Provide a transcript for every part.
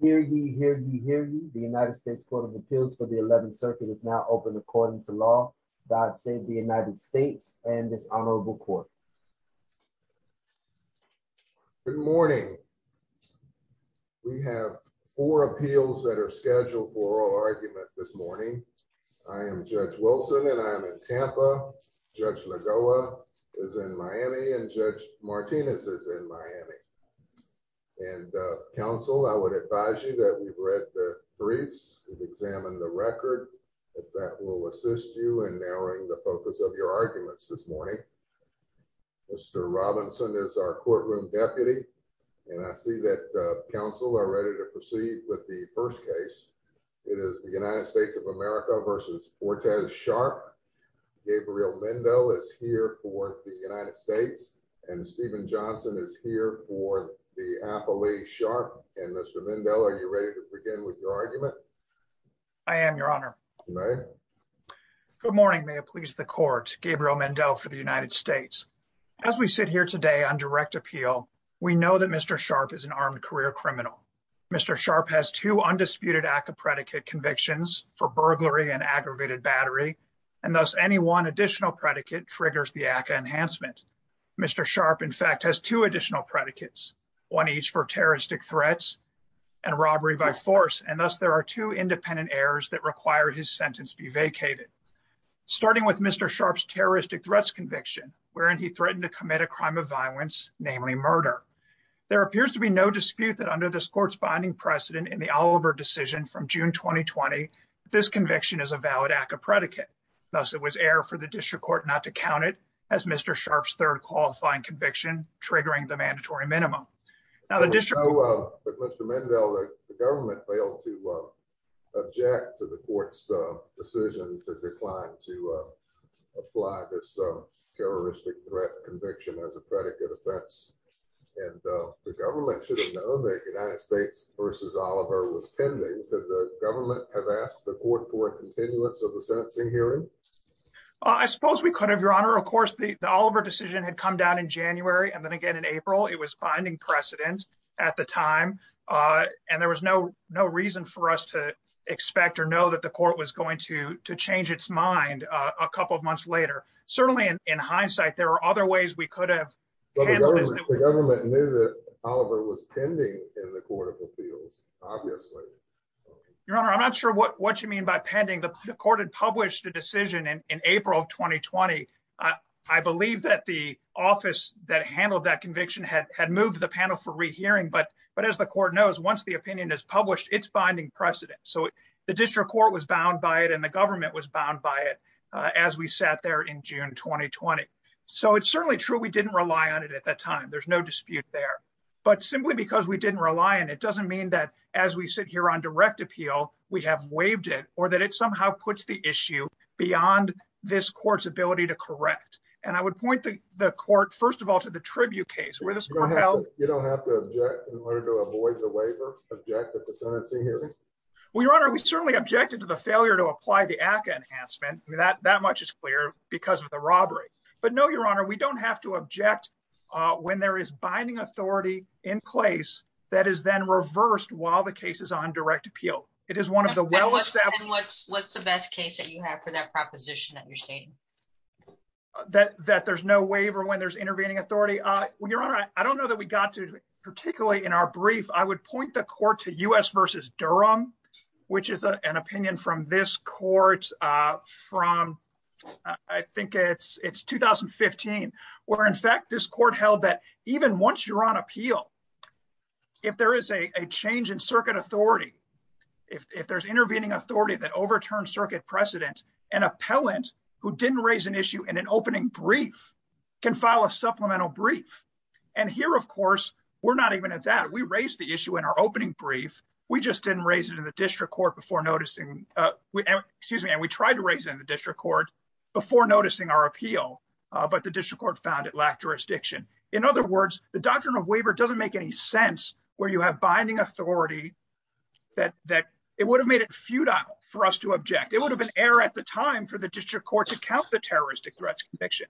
Hear ye, hear ye, hear ye. The United States Court of Appeals for the 11th Circuit is now open according to law. God save the United States and this honorable court. Good morning. We have four appeals that are scheduled for oral argument this morning. I am Judge Wilson and I am in Tampa. Judge Lagoa is in Miami and Judge Martinez is in Miami. And counsel, I would advise you that we've read the briefs, we've examined the record, if that will assist you in narrowing the focus of your arguments this morning. Mr. Robinson is our courtroom deputy and I see that the counsel are ready to proceed with the first case. It is the United States of America v. Ortaz Sharp. Gabriel Mendo is here for the appellee Sharp. And Mr. Mendo, are you ready to begin with your argument? I am, your honor. Good morning. May it please the court. Gabriel Mendo for the United States. As we sit here today on direct appeal, we know that Mr. Sharp is an armed career criminal. Mr. Sharp has two undisputed ACCA predicate convictions for burglary and aggravated battery, and thus any one additional predicate triggers the ACCA enhancement. Mr. Sharp, in fact, has two predicates, one each for terroristic threats and robbery by force, and thus there are two independent errors that require his sentence be vacated. Starting with Mr. Sharp's terroristic threats conviction, wherein he threatened to commit a crime of violence, namely murder. There appears to be no dispute that under this court's binding precedent in the Oliver decision from June 2020, this conviction is a valid ACCA predicate. Thus it was error for the district court not to count it as Mr. Sharp's third qualifying conviction, triggering the mandatory minimum. Mr. Mendo, the government failed to object to the court's decision to decline to apply this terroristic threat conviction as a predicate offense, and the government should have known that United States v. Oliver was pending. Did the government have asked the court to change its mind? I'm not sure what you mean by pending. The court had published a I believe that the office that handled that conviction had moved the panel for rehearing, but as the court knows, once the opinion is published, it's binding precedent. So the district court was bound by it and the government was bound by it as we sat there in June 2020. So it's certainly true we didn't rely on it at that time. There's no dispute there. But simply because we didn't rely on it doesn't mean that as we sit here on direct appeal, we have waived it or that it somehow puts the issue beyond this court's ability to correct. And I would point the court, first of all, to the tribute case. You don't have to object in order to avoid the waiver, object at the sentencing hearing? Well, Your Honor, we certainly objected to the failure to apply the ACCA enhancement. That much is clear because of the robbery. But no, Your Honor, we don't have to object when there is binding authority in place that is then reversed while the case is on direct appeal. And what's the best case that you have for that proposition that you're stating? That there's no waiver when there's intervening authority. Your Honor, I don't know that we got to, particularly in our brief, I would point the court to U.S. v. Durham, which is an opinion from this court from, I think it's 2015, where in fact this court held that even once you're on appeal, if there is a change in circuit authority, if there's intervening authority that overturns circuit precedent, an appellant who didn't raise an issue in an opening brief can file a supplemental brief. And here, of course, we're not even at that. We raised the issue in our opening brief. We just didn't raise it in the district court before noticing, excuse me, and we tried to raise it in the district court before noticing our appeal, but the district found it lacked jurisdiction. In other words, the doctrine of waiver doesn't make any sense where you have binding authority that it would have made it futile for us to object. It would have been error at the time for the district court to count the terroristic threats conviction.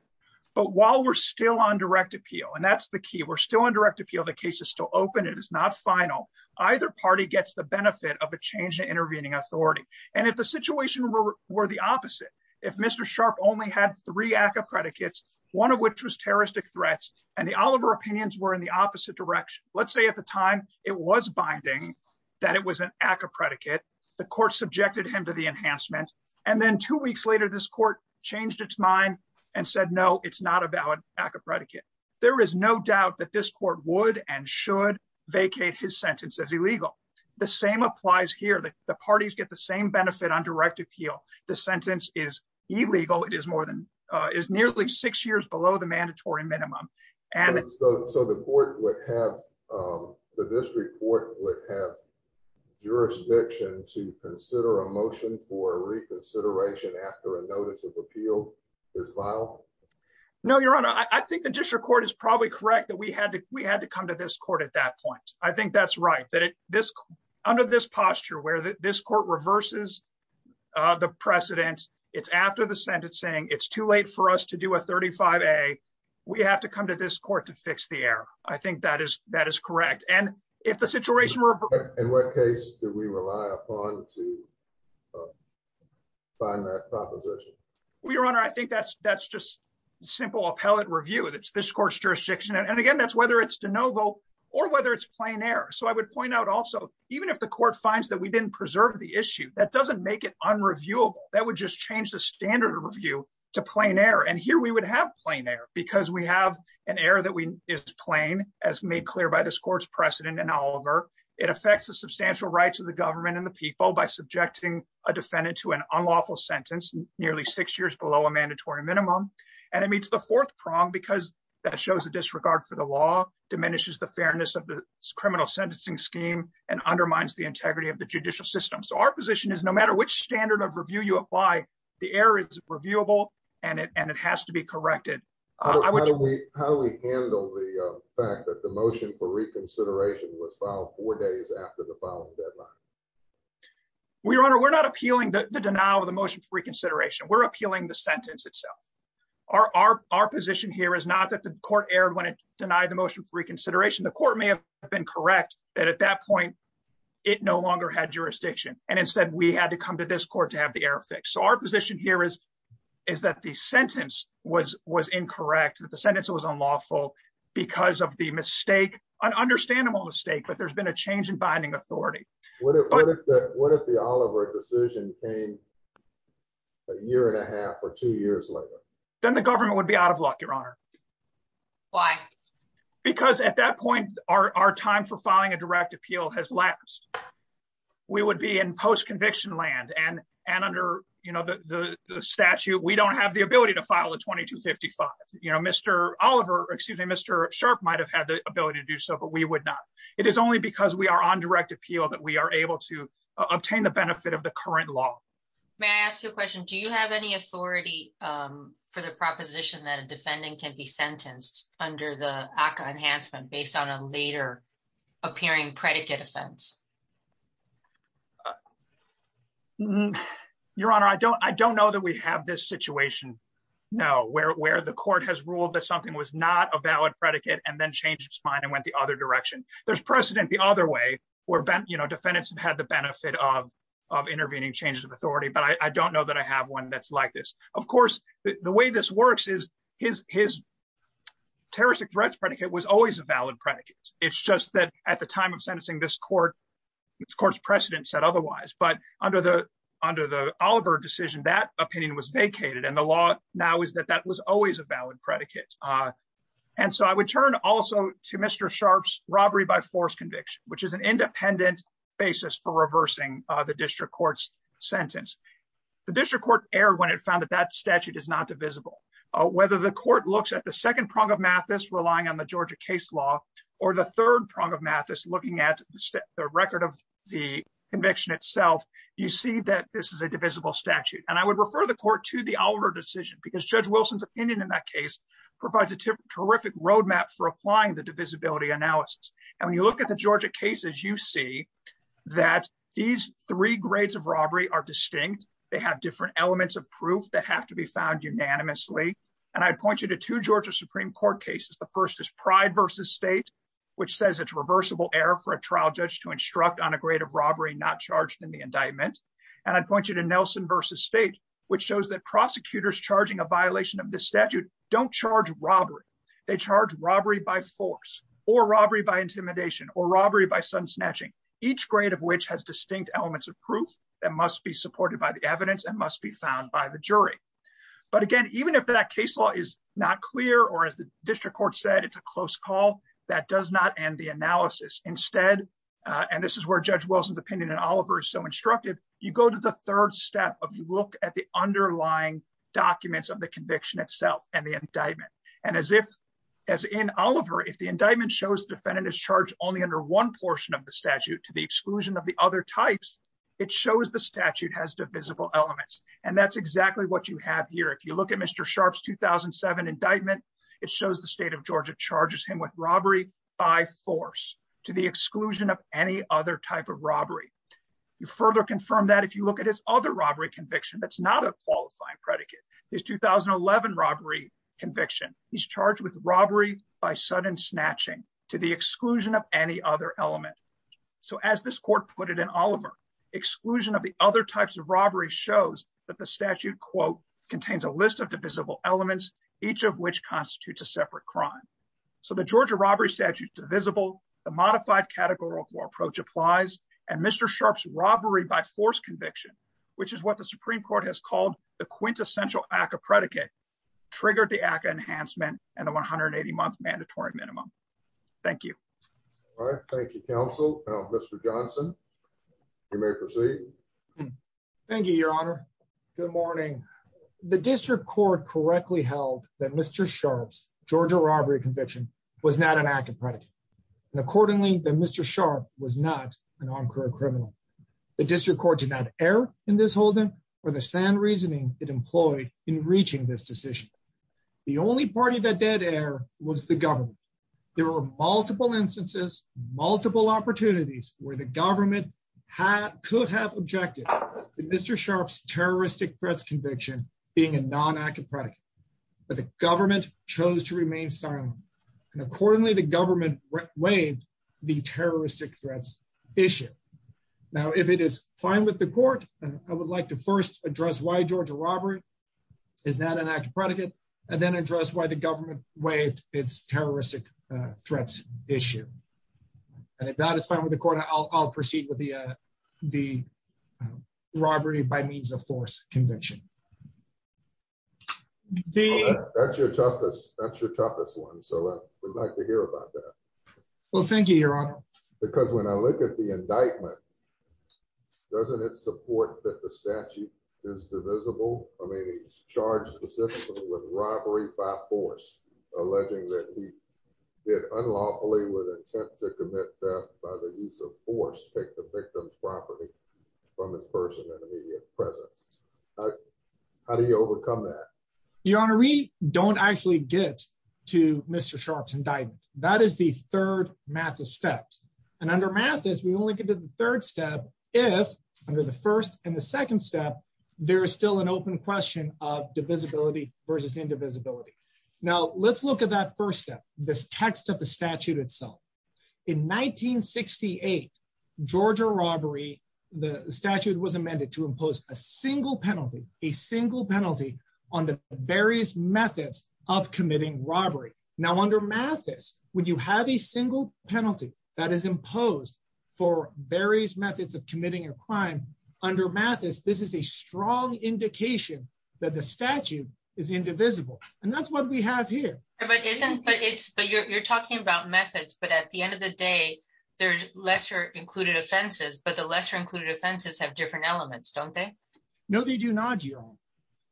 But while we're still on direct appeal, and that's the key, we're still on direct appeal, the case is still open, it is not final, either party gets the benefit of a change in intervening authority. And if the situation were the opposite, if Mr. Sharpe only had three ACCA predicates, one of which was terroristic threats, and the Oliver opinions were in the opposite direction, let's say at the time, it was binding, that it was an ACCA predicate, the court subjected him to the enhancement. And then two weeks later, this court changed its mind and said, No, it's not a valid ACCA predicate. There is no doubt that this court would and should vacate his sentence as illegal. The same applies here that the parties get the same benefit on direct appeal, the sentence is illegal, it is more than is nearly six years below the mandatory minimum. And so the board would have the district court would have jurisdiction to consider a motion for reconsideration after a notice of appeal is filed. No, Your Honor, I think the district court is probably correct that we had to we had to come to this court at that point. I think that's right that this under this posture where this court reverses the precedent, it's after the Senate saying it's too late for us to do a 35. A, we have to come to this court to fix the error. I think that is that is correct. And if the situation were in what case do we rely upon to find that proposition? We run I think that's that's just simple appellate review that's this course jurisdiction. And again, that's whether it's de novo, or whether it's plain air. So I would point out also, even if the court finds that we didn't preserve the issue that doesn't make it unreviewable, that would just change the standard review to plain air. And here we would have plain air, because we have an error that we is plain, as made clear by this court's precedent. And Oliver, it affects the substantial rights of the government and the people by subjecting a defendant to an unlawful sentence nearly six years below a mandatory minimum. And it meets the fourth prong because that shows a disregard for the law diminishes the fairness of the criminal sentencing scheme and undermines the integrity of the judicial system. So our position is no matter which standard of review you apply, the error is reviewable, and it has to be corrected. How do we handle the fact that the motion for reconsideration was filed four days after the following deadline? We're not appealing the denial of the motion for reconsideration, we're appealing the sentence itself. Our position here is not that the court erred when it denied the motion for reconsideration, the court may have been correct, that at that point, it no longer had jurisdiction. And instead, we had to come to this court to have the error fixed. So our position here is, is that the sentence was was incorrect, that the sentence was unlawful, because of the mistake, an understandable mistake, but there's been a change in binding authority. What if the Oliver decision came a year and a half or two years later? Then the government would be out of luck, Your Honor. Why? Because at that point, our time for filing a direct appeal has lapsed, we would be in post conviction land and, and under, you know, the statute, we don't have the ability to file a 2255. You know, Mr. Oliver, excuse me, Mr. Sharp might have had the ability to do so, but we would not. It is only because we are on direct appeal that we are able to obtain the benefit of the current law. May I ask you a question? Do you have any authority for the proposition that a defendant can be sentenced under the ACA enhancement based on a later appearing predicate offense? Your Honor, I don't, I don't know that we have this situation. Now, where the court has ruled that something was not a valid predicate, and then changed his mind and went the other direction. There's precedent the other way, or, you know, defendants have had the benefit of, of intervening changes of authority, but I don't know that I have one that's like this. Of course, the way this works is his, his terroristic threats predicate was always a valid predicate. It's just that at the time of sentencing this court, the court's precedent said otherwise, but under the, under the Oliver decision, that opinion was vacated and the law now is that that was always a valid predicate. And so I would turn also to Mr. Sharp's robbery by force conviction, which is an independent basis for reversing the district court's sentence. The district court erred when it found that that statute is not divisible. Whether the court looks at the second prong of Mathis relying on the Georgia case law, or the third prong of Mathis looking at the record of the conviction itself, you see that this is a divisible statute. And I would refer the court to the Oliver decision because Judge Wilson's opinion in that case provides a terrific roadmap for applying the divisibility analysis. And when you look at the Georgia cases, you see that these three grades of robbery are distinct. They have different elements of proof that have to be found unanimously. And I'd point you to two Georgia Supreme Court cases. The first is Pride versus State, which says it's reversible error for a trial judge to instruct on a grade of robbery, not charged in the indictment. And I'd point you to Nelson versus State, which shows that prosecutors charging a violation of the statute don't charge robbery. They charge robbery by force, or robbery by intimidation, or robbery by sun snatching, each grade of which has distinct elements of proof that must be supported by the evidence and must be found by the jury. But again, even if that case law is not clear, or as the district court said, it's a close call, that does not end the analysis. Instead, and this is where Judge Wilson's opinion in Oliver is so instructive, you go to the third step of you look at the underlying documents of the indictment shows defendant is charged only under one portion of the statute to the exclusion of the other types, it shows the statute has divisible elements. And that's exactly what you have here. If you look at Mr. Sharpe's 2007 indictment, it shows the state of Georgia charges him with robbery by force to the exclusion of any other type of robbery. You further confirm that if you look at his other robbery conviction, that's not a qualifying predicate. His 2011 robbery conviction, he's charged with robbery by sudden snatching to the exclusion of any other element. So as this court put it in Oliver, exclusion of the other types of robbery shows that the statute quote, contains a list of divisible elements, each of which constitutes a separate crime. So the Georgia robbery statute divisible, the modified categorical approach applies. And Mr. Sharpe's robbery by force conviction, which is what the Supreme Court has called the quintessential ACA predicate, triggered the ACA enhancement and the 180 month mandatory minimum. Thank you. All right. Thank you, counsel. Mr. Johnson. You may proceed. Thank you, Your Honor. Good morning. The district court correctly held that Mr. Sharpe's Georgia robbery conviction was not an active predicate. And accordingly, the Mr. Sharpe was not an on reasoning it employed in reaching this decision. The only party that dead air was the government. There were multiple instances, multiple opportunities where the government had could have objected to Mr. Sharpe's terroristic threats conviction being a non active predicate. But the government chose to remain silent. And accordingly, the government waived the terroristic threats issue. Now, if it is fine with the court, I would like to first address why Georgia robbery is not an active predicate, and then address why the government waived its terroristic threats issue. And if that is fine with the court, I'll proceed with the the robbery by means of force conviction. See, that's your toughest, that's your toughest one. So we'd like to hear about that. Well, thank you, Your Honor. Because when I look at the indictment, doesn't it support that the statute is divisible? I mean, he's charged specifically with robbery by force, alleging that he did unlawfully with intent to commit theft by the use of force take the victim's property from this person in immediate presence. How do you overcome that? Your Honor, we don't actually get to Mr. Sharpe's indictment. That is the third math of steps. And under math is we only get to the third step. If under the first and the second step, there is still an open question of divisibility versus indivisibility. Now let's look at that first step, this text of the statute itself. In 1968, Georgia robbery, the statute was amended to impose a single penalty on the various methods of committing robbery. Now under math is when you have a single penalty that is imposed for various methods of committing a crime. Under math is this is a strong indication that the statute is indivisible. And that's what we have here. But isn't but it's but you're talking about methods, but at the end of the day, there's lesser included offenses, but the lesser included offenses have different elements, don't No, they do not.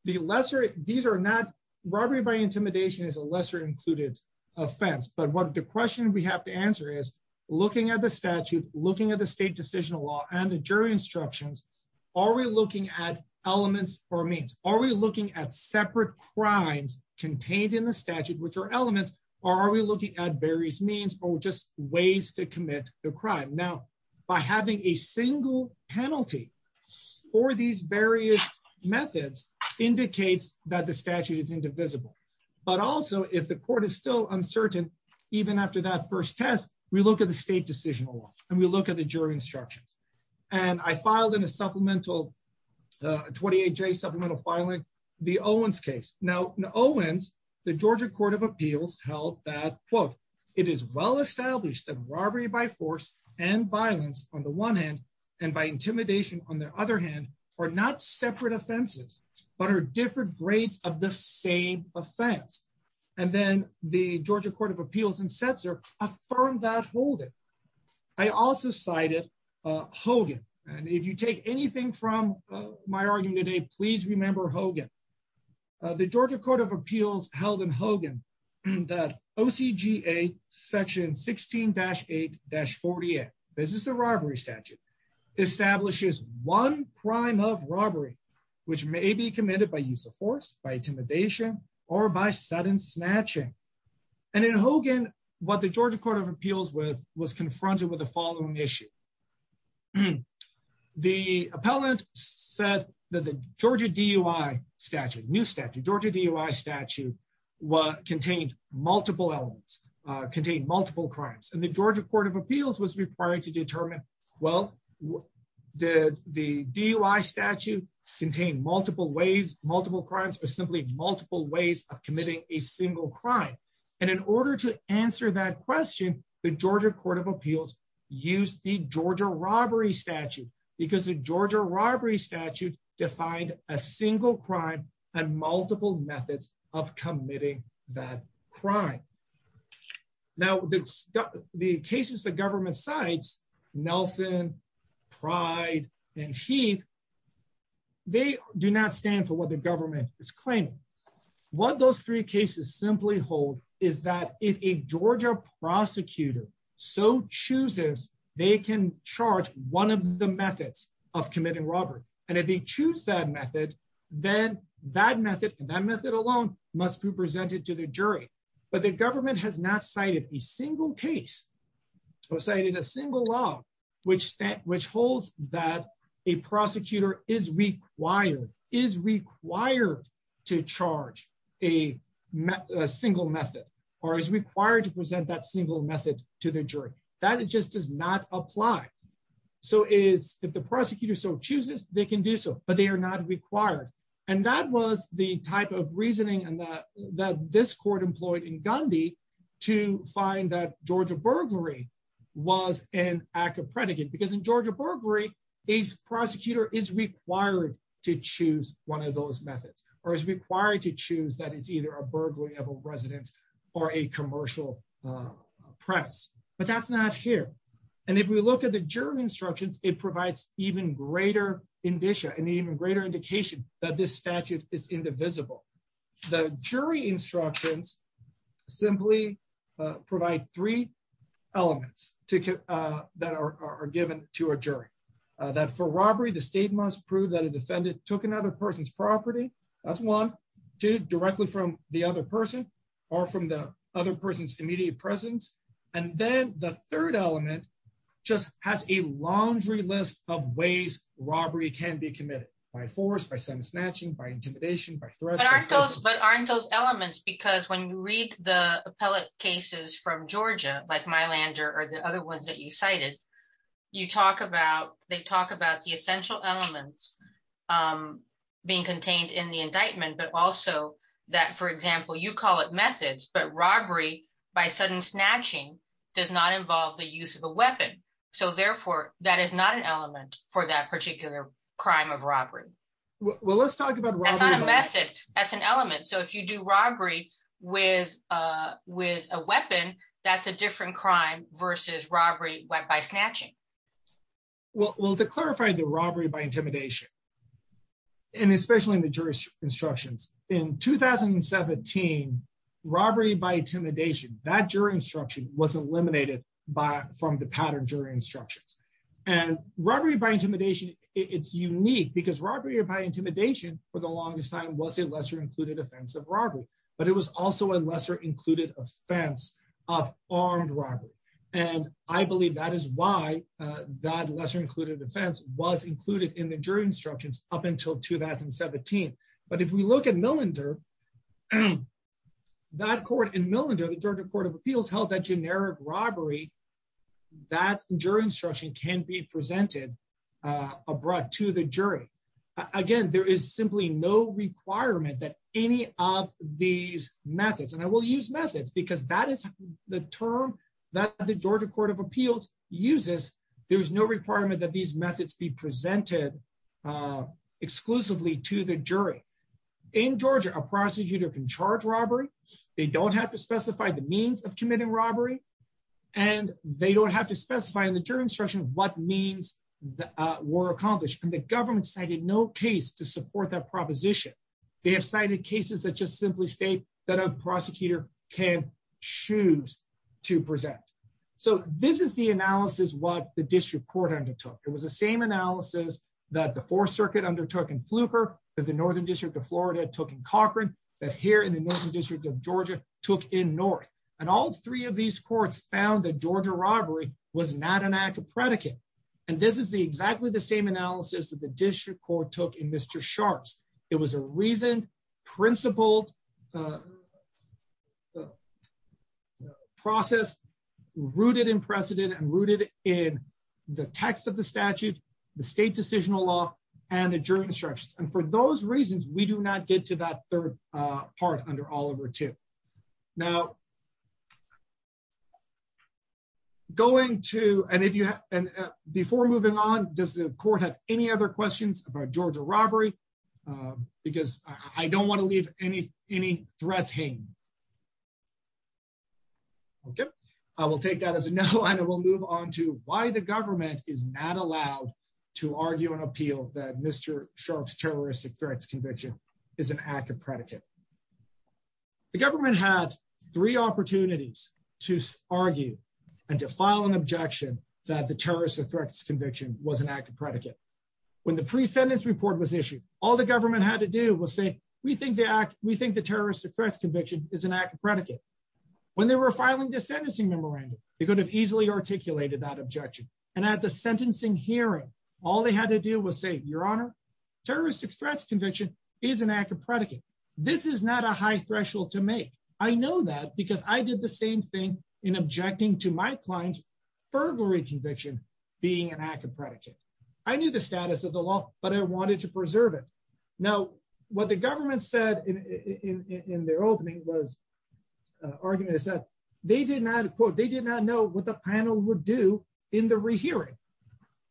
The lesser these are not robbery by intimidation is a lesser included offense. But what the question we have to answer is, looking at the statute, looking at the state decisional law and the jury instructions, are we looking at elements or means? Are we looking at separate crimes contained in the statute, which are elements? Or are we looking at various means or just ways to commit a crime now, by having a single penalty for these various methods indicates that the statute is indivisible. But also, if the court is still uncertain, even after that first test, we look at the state decisional law, and we look at the jury instructions. And I filed in a supplemental 28 J supplemental filing, the Owens case. Now, Owens, the Georgia Court of Appeals held that quote, it is well established that robbery by force and violence on the one hand, and by intimidation, on the other hand, are not separate offenses, but are different grades of the same offense. And then the Georgia Court of Appeals and sets are affirmed that hold it. I also cited Hogan. And if you take anything from my argument today, please remember Hogan, the Georgia Court of Appeals held in Hogan, that OCGA section 16 dash eight dash 48, this is the robbery statute establishes one crime of robbery, which may be committed by use of force by intimidation, or by sudden snatching. And in Hogan, what the Georgia Court of Appeals with was confronted with the following issue. And the appellant said that the Georgia DUI statute new statute Georgia DUI statute, what contained multiple elements contain multiple crimes, and the Georgia Court of Appeals was required to determine, well, did the DUI statute contain multiple ways, multiple crimes, or simply multiple ways of committing a single crime? And in order to Georgia robbery statute, because the Georgia robbery statute defined a single crime and multiple methods of committing that crime. Now, that's the cases the government sites, Nelson, pride, and Heath. They do not stand for what the government is claiming. What those three cases simply hold is that if a Georgia prosecutor so chooses, they can charge one of the methods of committing robbery. And if they choose that method, then that method, that method alone must be presented to the jury. But the government has not cited a single case or cited a single law, which which holds that a prosecutor is required is required to charge a single method, or is required to present that single method to the jury, that it just does not apply. So is if the prosecutor so chooses, they can do so, but they are not required. And that was the type of reasoning and that that this court employed in to find that Georgia burglary was an act of predicate, because in Georgia burglary, a prosecutor is required to choose one of those methods, or is required to choose that it's either a burglary of a residence, or a commercial press, but that's not here. And if we look at the jury instructions, it provides even greater indicia and even greater indication that this simply provide three elements to that are given to a jury, that for robbery, the state must prove that a defendant took another person's property, that's one to directly from the other person, or from the other person's immediate presence. And then the third element just has a laundry list of ways robbery can be committed by force by sending snatching by intimidation by threat, but aren't those elements because when you read the appellate cases from Georgia, like my lander or the other ones that you cited, you talk about they talk about the essential elements being contained in the indictment, but also that, for example, you call it methods, but robbery by sudden snatching does not involve the use of a weapon. So therefore, that is not an element for that particular crime of robbery. Well, let's talk about a method as an element. So if you do robbery with a weapon, that's a different crime versus robbery by snatching. Well, to clarify the robbery by intimidation, and especially in the jury instructions, in 2017, robbery by intimidation, that jury instruction was eliminated by from the pattern jury instructions. And robbery by intimidation, it's unique because robbery by lesser included offense of robbery, but it was also a lesser included offense of armed robbery. And I believe that is why that lesser included defense was included in the jury instructions up until 2017. But if we look at millinder, that court in millinder, the Georgia Court of Appeals held that generic robbery, that jury instruction can be presented abroad to the jury. Again, there is simply no requirement that any of these methods and I will use methods because that is the term that the Georgia Court of Appeals uses. There's no requirement that these methods be presented exclusively to the jury. In Georgia, a prosecutor can charge robbery, they don't have to specify the means of committing robbery. And they don't have to specify in the jury instruction what means that were accomplished. And the government cited no case to support that proposition. They have cited cases that just simply state that a prosecutor can choose to present. So this is the analysis what the district court undertook. It was the same analysis that the Fourth Circuit undertook in Fluker, that the Northern District of Florida took in Cochran, that here in the Northern District of Georgia took in North. And all three of these courts found that Georgia robbery was not an act of predicate. And this is the exactly the same analysis that the district court took in Mr. Sharpe's. It was a reasoned, principled process, rooted in precedent and rooted in the text of the statute, the state decisional law, and the jury instructions. And for those reasons, we do not get to that third part under Oliver II. Now, going to and if you and before moving on, does the court have any other questions about Georgia robbery? Because I don't want to leave any, any threats hanging. Okay, I will take that as a no. And we'll move on to why the government is not allowed to argue and appeal that Mr. Sharpe's terroristic threats conviction is an act of predicate. The government had three opportunities to argue and to file an objection that the terrorist threats conviction was an act of predicate. When the pre sentence report was issued, all the government had to do was say, we think the act we think the terrorist threats conviction is an act of predicate. When they were filing the sentencing memorandum, they could have easily articulated that objection. And at the sentencing hearing, all they had to do was say, Your Honor, terrorist threats conviction is an act of predicate. This is not a high threshold to make. I know that because I did the same thing in objecting to my client's burglary conviction being an act of predicate. I knew the status of the law, but I wanted to preserve it. Now, what the government said in their opening was argument is that they did not quote, they did not know what the panel would do in the rehearing.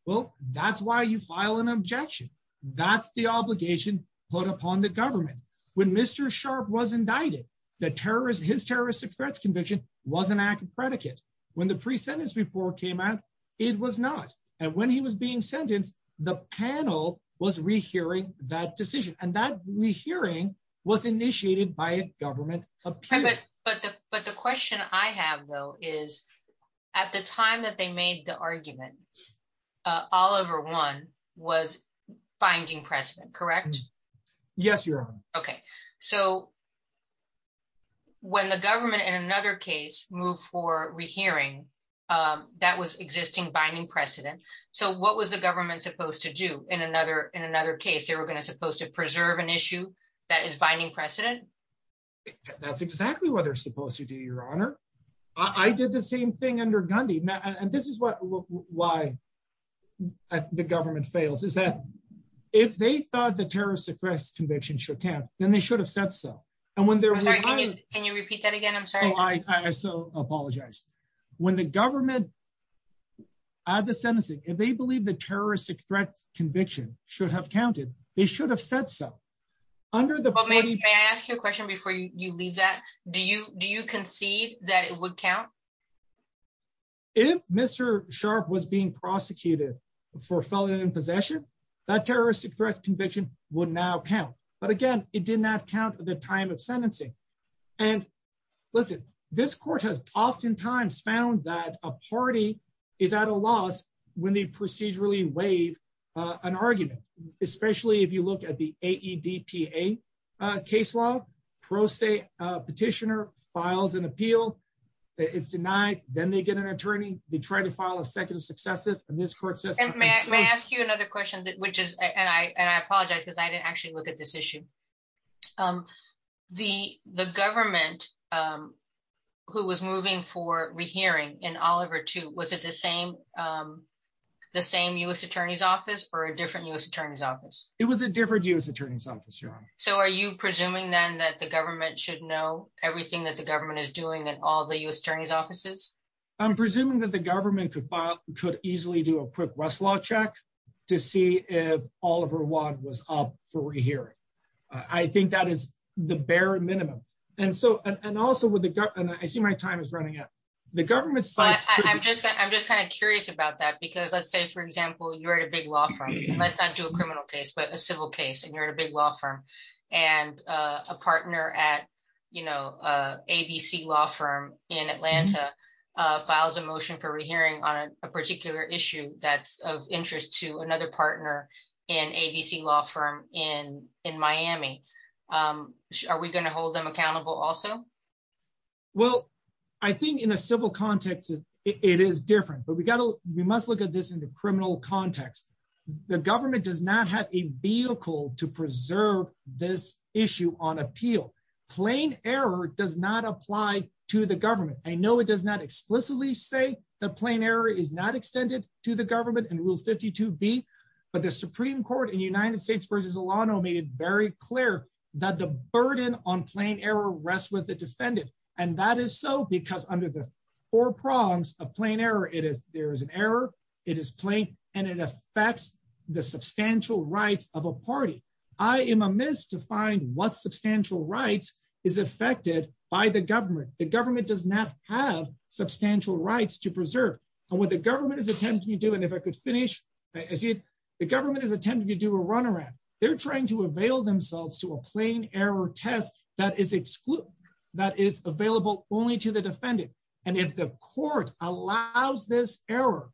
Well, that's why you file an objection. That's the obligation put upon the government. When Mr. Sharp was indicted, the terrorist, his terrorist threats conviction was an act of predicate. When the pre sentence report came out, it was not. And when he was being sentenced, the panel was rehearing that decision. And that rehearing was initiated by a government. But the question I have, though, is, at the time that they made the argument, Oliver one was binding precedent, correct? Yes, Your Honor. Okay. So when the government in another case moved for rehearing, that was existing binding precedent. So what was the government supposed to do in another in another case, they were going to supposed to preserve an issue that is binding precedent? That's exactly what they're supposed to do, Your Honor. I did the same thing under Gandhi. And this is what why the government fails is that if they thought the terrorist threats conviction should count, then they should have said so. And when they're Can you repeat that again? I'm sorry. I so apologize. When the government are the sentencing, if they believe the terrorist threats conviction should have counted, they should have said so. Under the But may I ask you a question before you leave that? Do you do you concede that it would count? If Mr. Sharpe was being prosecuted for felony possession, that terrorist threat conviction would now count. But again, it did not count at the time of sentencing. And listen, this court has oftentimes found that a party is at a loss when they procedurally waive an argument, especially if you look at the AEDPA case law, pro se petitioner files an appeal, it's denied, then they get an attorney, they try to file a second successive and this court says And may I ask you another question that which is and I and I apologize, because I didn't actually look at this issue. The the government who was moving for rehearing in Oliver to was it the same the same US Attorney's Office or a different US Attorney's Office? It was a different US Attorney's Office, your honor. So are you presuming then that the government should know everything that the government is doing and all the US Attorney's Offices? I'm presuming that the government could file could easily do a quick rest law check to see if Oliver one was up for rehearing. I think that is the bare minimum. And so and also with the gut and I see my time is running out. The government's I'm just kind of curious about that. Because let's say for example, you're at a big law firm, let's not do a criminal case, but a civil case, and you're in a big law firm, and a partner at, you know, ABC law firm in Atlanta, files a motion for rehearing on a particular issue that's of interest to another partner in ABC law firm in in Miami. Are we going to hold them accountable also? Well, I think in a civil context, it is different, but we got to we must look at this in the criminal context. The government does not have a vehicle to preserve this issue on appeal. Plain error does not apply to the government. I know it does not explicitly say the plain error is not extended to the government and rule 52 B. But the Supreme Court in United States versus a lot of made it very clear that the burden on plain error rests with the defendant. And that is so because under the four prongs of plain error, it is there is an error, it is plain, and it affects the substantial rights of a party. I am amiss to find what substantial rights is affected by the government, the government does not have substantial rights to preserve. And what the government is attempting to do. And if I could finish as if the government is attempting to do a run around, they're trying to avail themselves to a plain error test that is excluded, that is available only to the defendant. And if the court allows this error,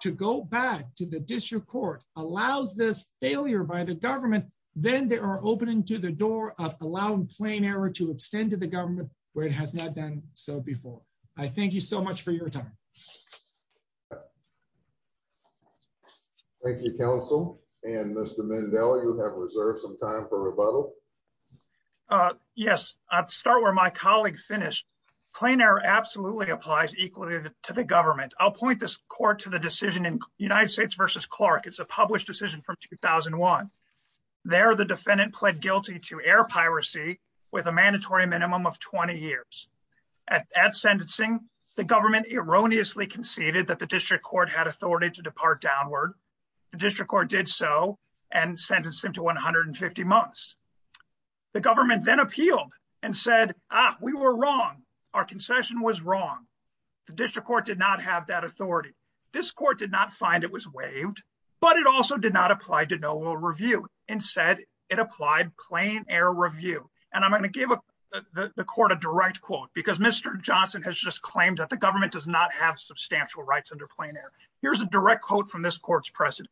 to go back to the district court allows this failure by the government, then they are opening to the door of allowing plain error to extend to the government where it has not done so before. I thank you so much for your time. Thank you, counsel. And Mr. Mandela, you have reserved some time for rebuttal. Yes, I'd start where my colleague finished. plain error absolutely applies equally to the government. I'll point this court to the decision in United States versus Clark. It's a published decision from 2001. There the defendant pled guilty to air piracy with a mandatory minimum of 20 years. At sentencing, the government erroneously conceded that the district court had authority to depart downward. The district court did so and sentenced him to 150 months. The government then appealed and said, Ah, we were wrong. Our concession was wrong. The district court did not have that authority. This court did not find it was waived. But it also did not apply to no will review and said it applied plain error review. And I'm going to give the court a direct quote because Mr. Johnson has just claimed that the government does not have substantial rights under plain error. Here's a direct quote from this court's president.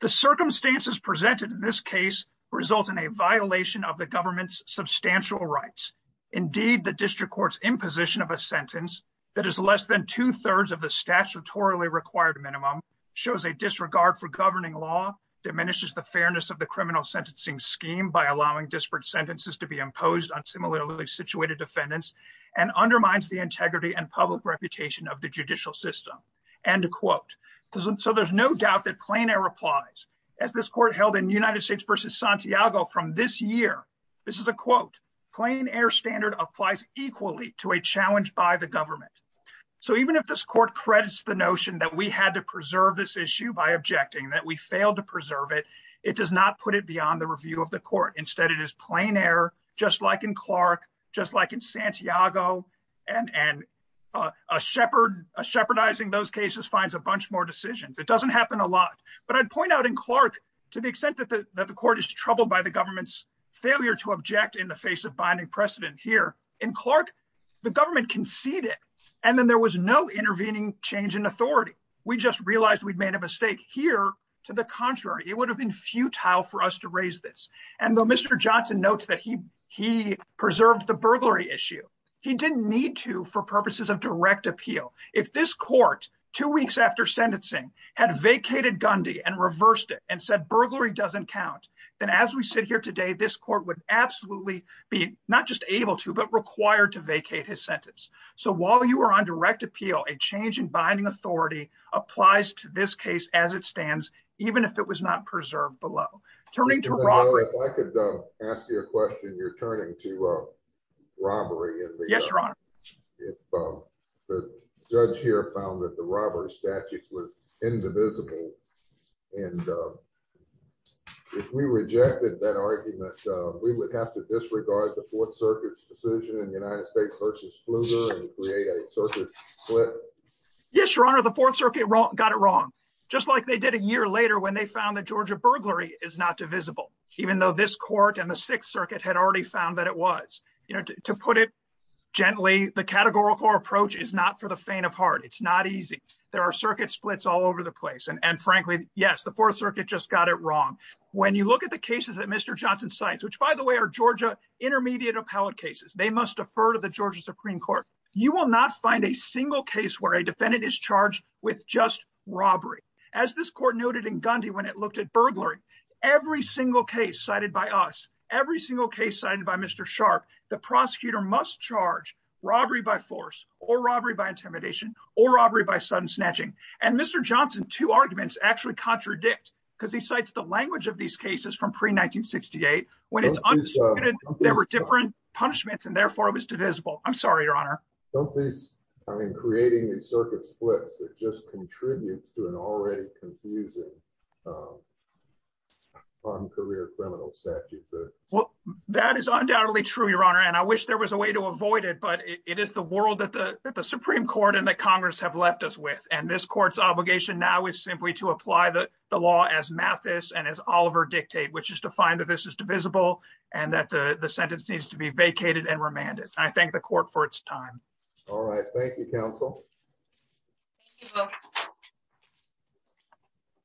The circumstances presented in this case result in a violation of the government's substantial rights. Indeed, the district court's imposition of a sentence that is less than two thirds of the statutorily required minimum shows a disregard for governing law, diminishes the fairness of the criminal sentencing scheme by allowing disparate sentences to be imposed on similarly situated defendants and undermines the integrity and public reputation of the judicial system. End quote. So there's no doubt that plain error applies as this court held in United States versus Santiago from this year. This is a quote. Plain air standard applies equally to a challenge by government. So even if this court credits the notion that we had to preserve this issue by objecting, that we failed to preserve it, it does not put it beyond the review of the court. Instead, it is plain air, just like in Clark, just like in Santiago, and shepherding those cases finds a bunch more decisions. It doesn't happen a lot. But I'd point out in Clark, to the extent that the court is troubled by the government's failure to object in the face of binding precedent here, in Clark, the government conceded, and then there was no intervening change in authority. We just realized we'd made a mistake here. To the contrary, it would have been futile for us to raise this. And though Mr. Johnson notes that he preserved the burglary issue, he didn't need to for purposes of direct appeal. If this court, two weeks after sentencing, had vacated Gundy and reversed it, and said burglary doesn't count, then as we sit here today, this court would absolutely be not just able to, but required to vacate his sentence. So while you are on direct appeal, a change in binding authority applies to this case as it stands, even if it was not preserved below. Turning to robbery. If I could ask you a question, you're turning to robbery. Yes, Your Honor. If the judge here found that the robbery statute was indivisible, and if we rejected that argument, we would have to disregard the Fourth Circuit's decision in the United States versus Pfluger and create a circuit split? Yes, Your Honor. The Fourth Circuit got it wrong, just like they did a year later when they found that Georgia burglary is not divisible, even though this court and the Sixth Circuit had already found that it was. To put it gently, the categorical approach is not for the faint of heart. It's not easy. There are circuit splits all over the place. And frankly, yes, the Fourth Circuit just got it wrong. When you look at the cases that Mr. Johnson cites, which, by the way, are Georgia intermediate appellate cases, they must defer to the Georgia Supreme Court. You will not find a single case where a defendant is charged with just robbery. As this court noted in Gundy when it looked at burglary, every single case cited by us, every single case cited by Mr. Sharp, the prosecutor must charge robbery by force, or robbery by intimidation, or robbery by sudden snatching. And Mr. Johnson, two arguments actually contradict, because he cites the language of these cases from pre-1968, when it's understood there were different punishments, and therefore it was divisible. I'm sorry, Your Honor. Don't these, I mean, creating these circuit splits, it just contributes to an already confusing non-career criminal statute. That is undoubtedly true, Your Honor. And I wish there was a way to avoid it, but it is the world that the Supreme Court and the Congress have left us with. This court's obligation now is simply to apply the law as Mathis and as Oliver dictate, which is to find that this is divisible and that the sentence needs to be vacated and remanded. I thank the court for its time.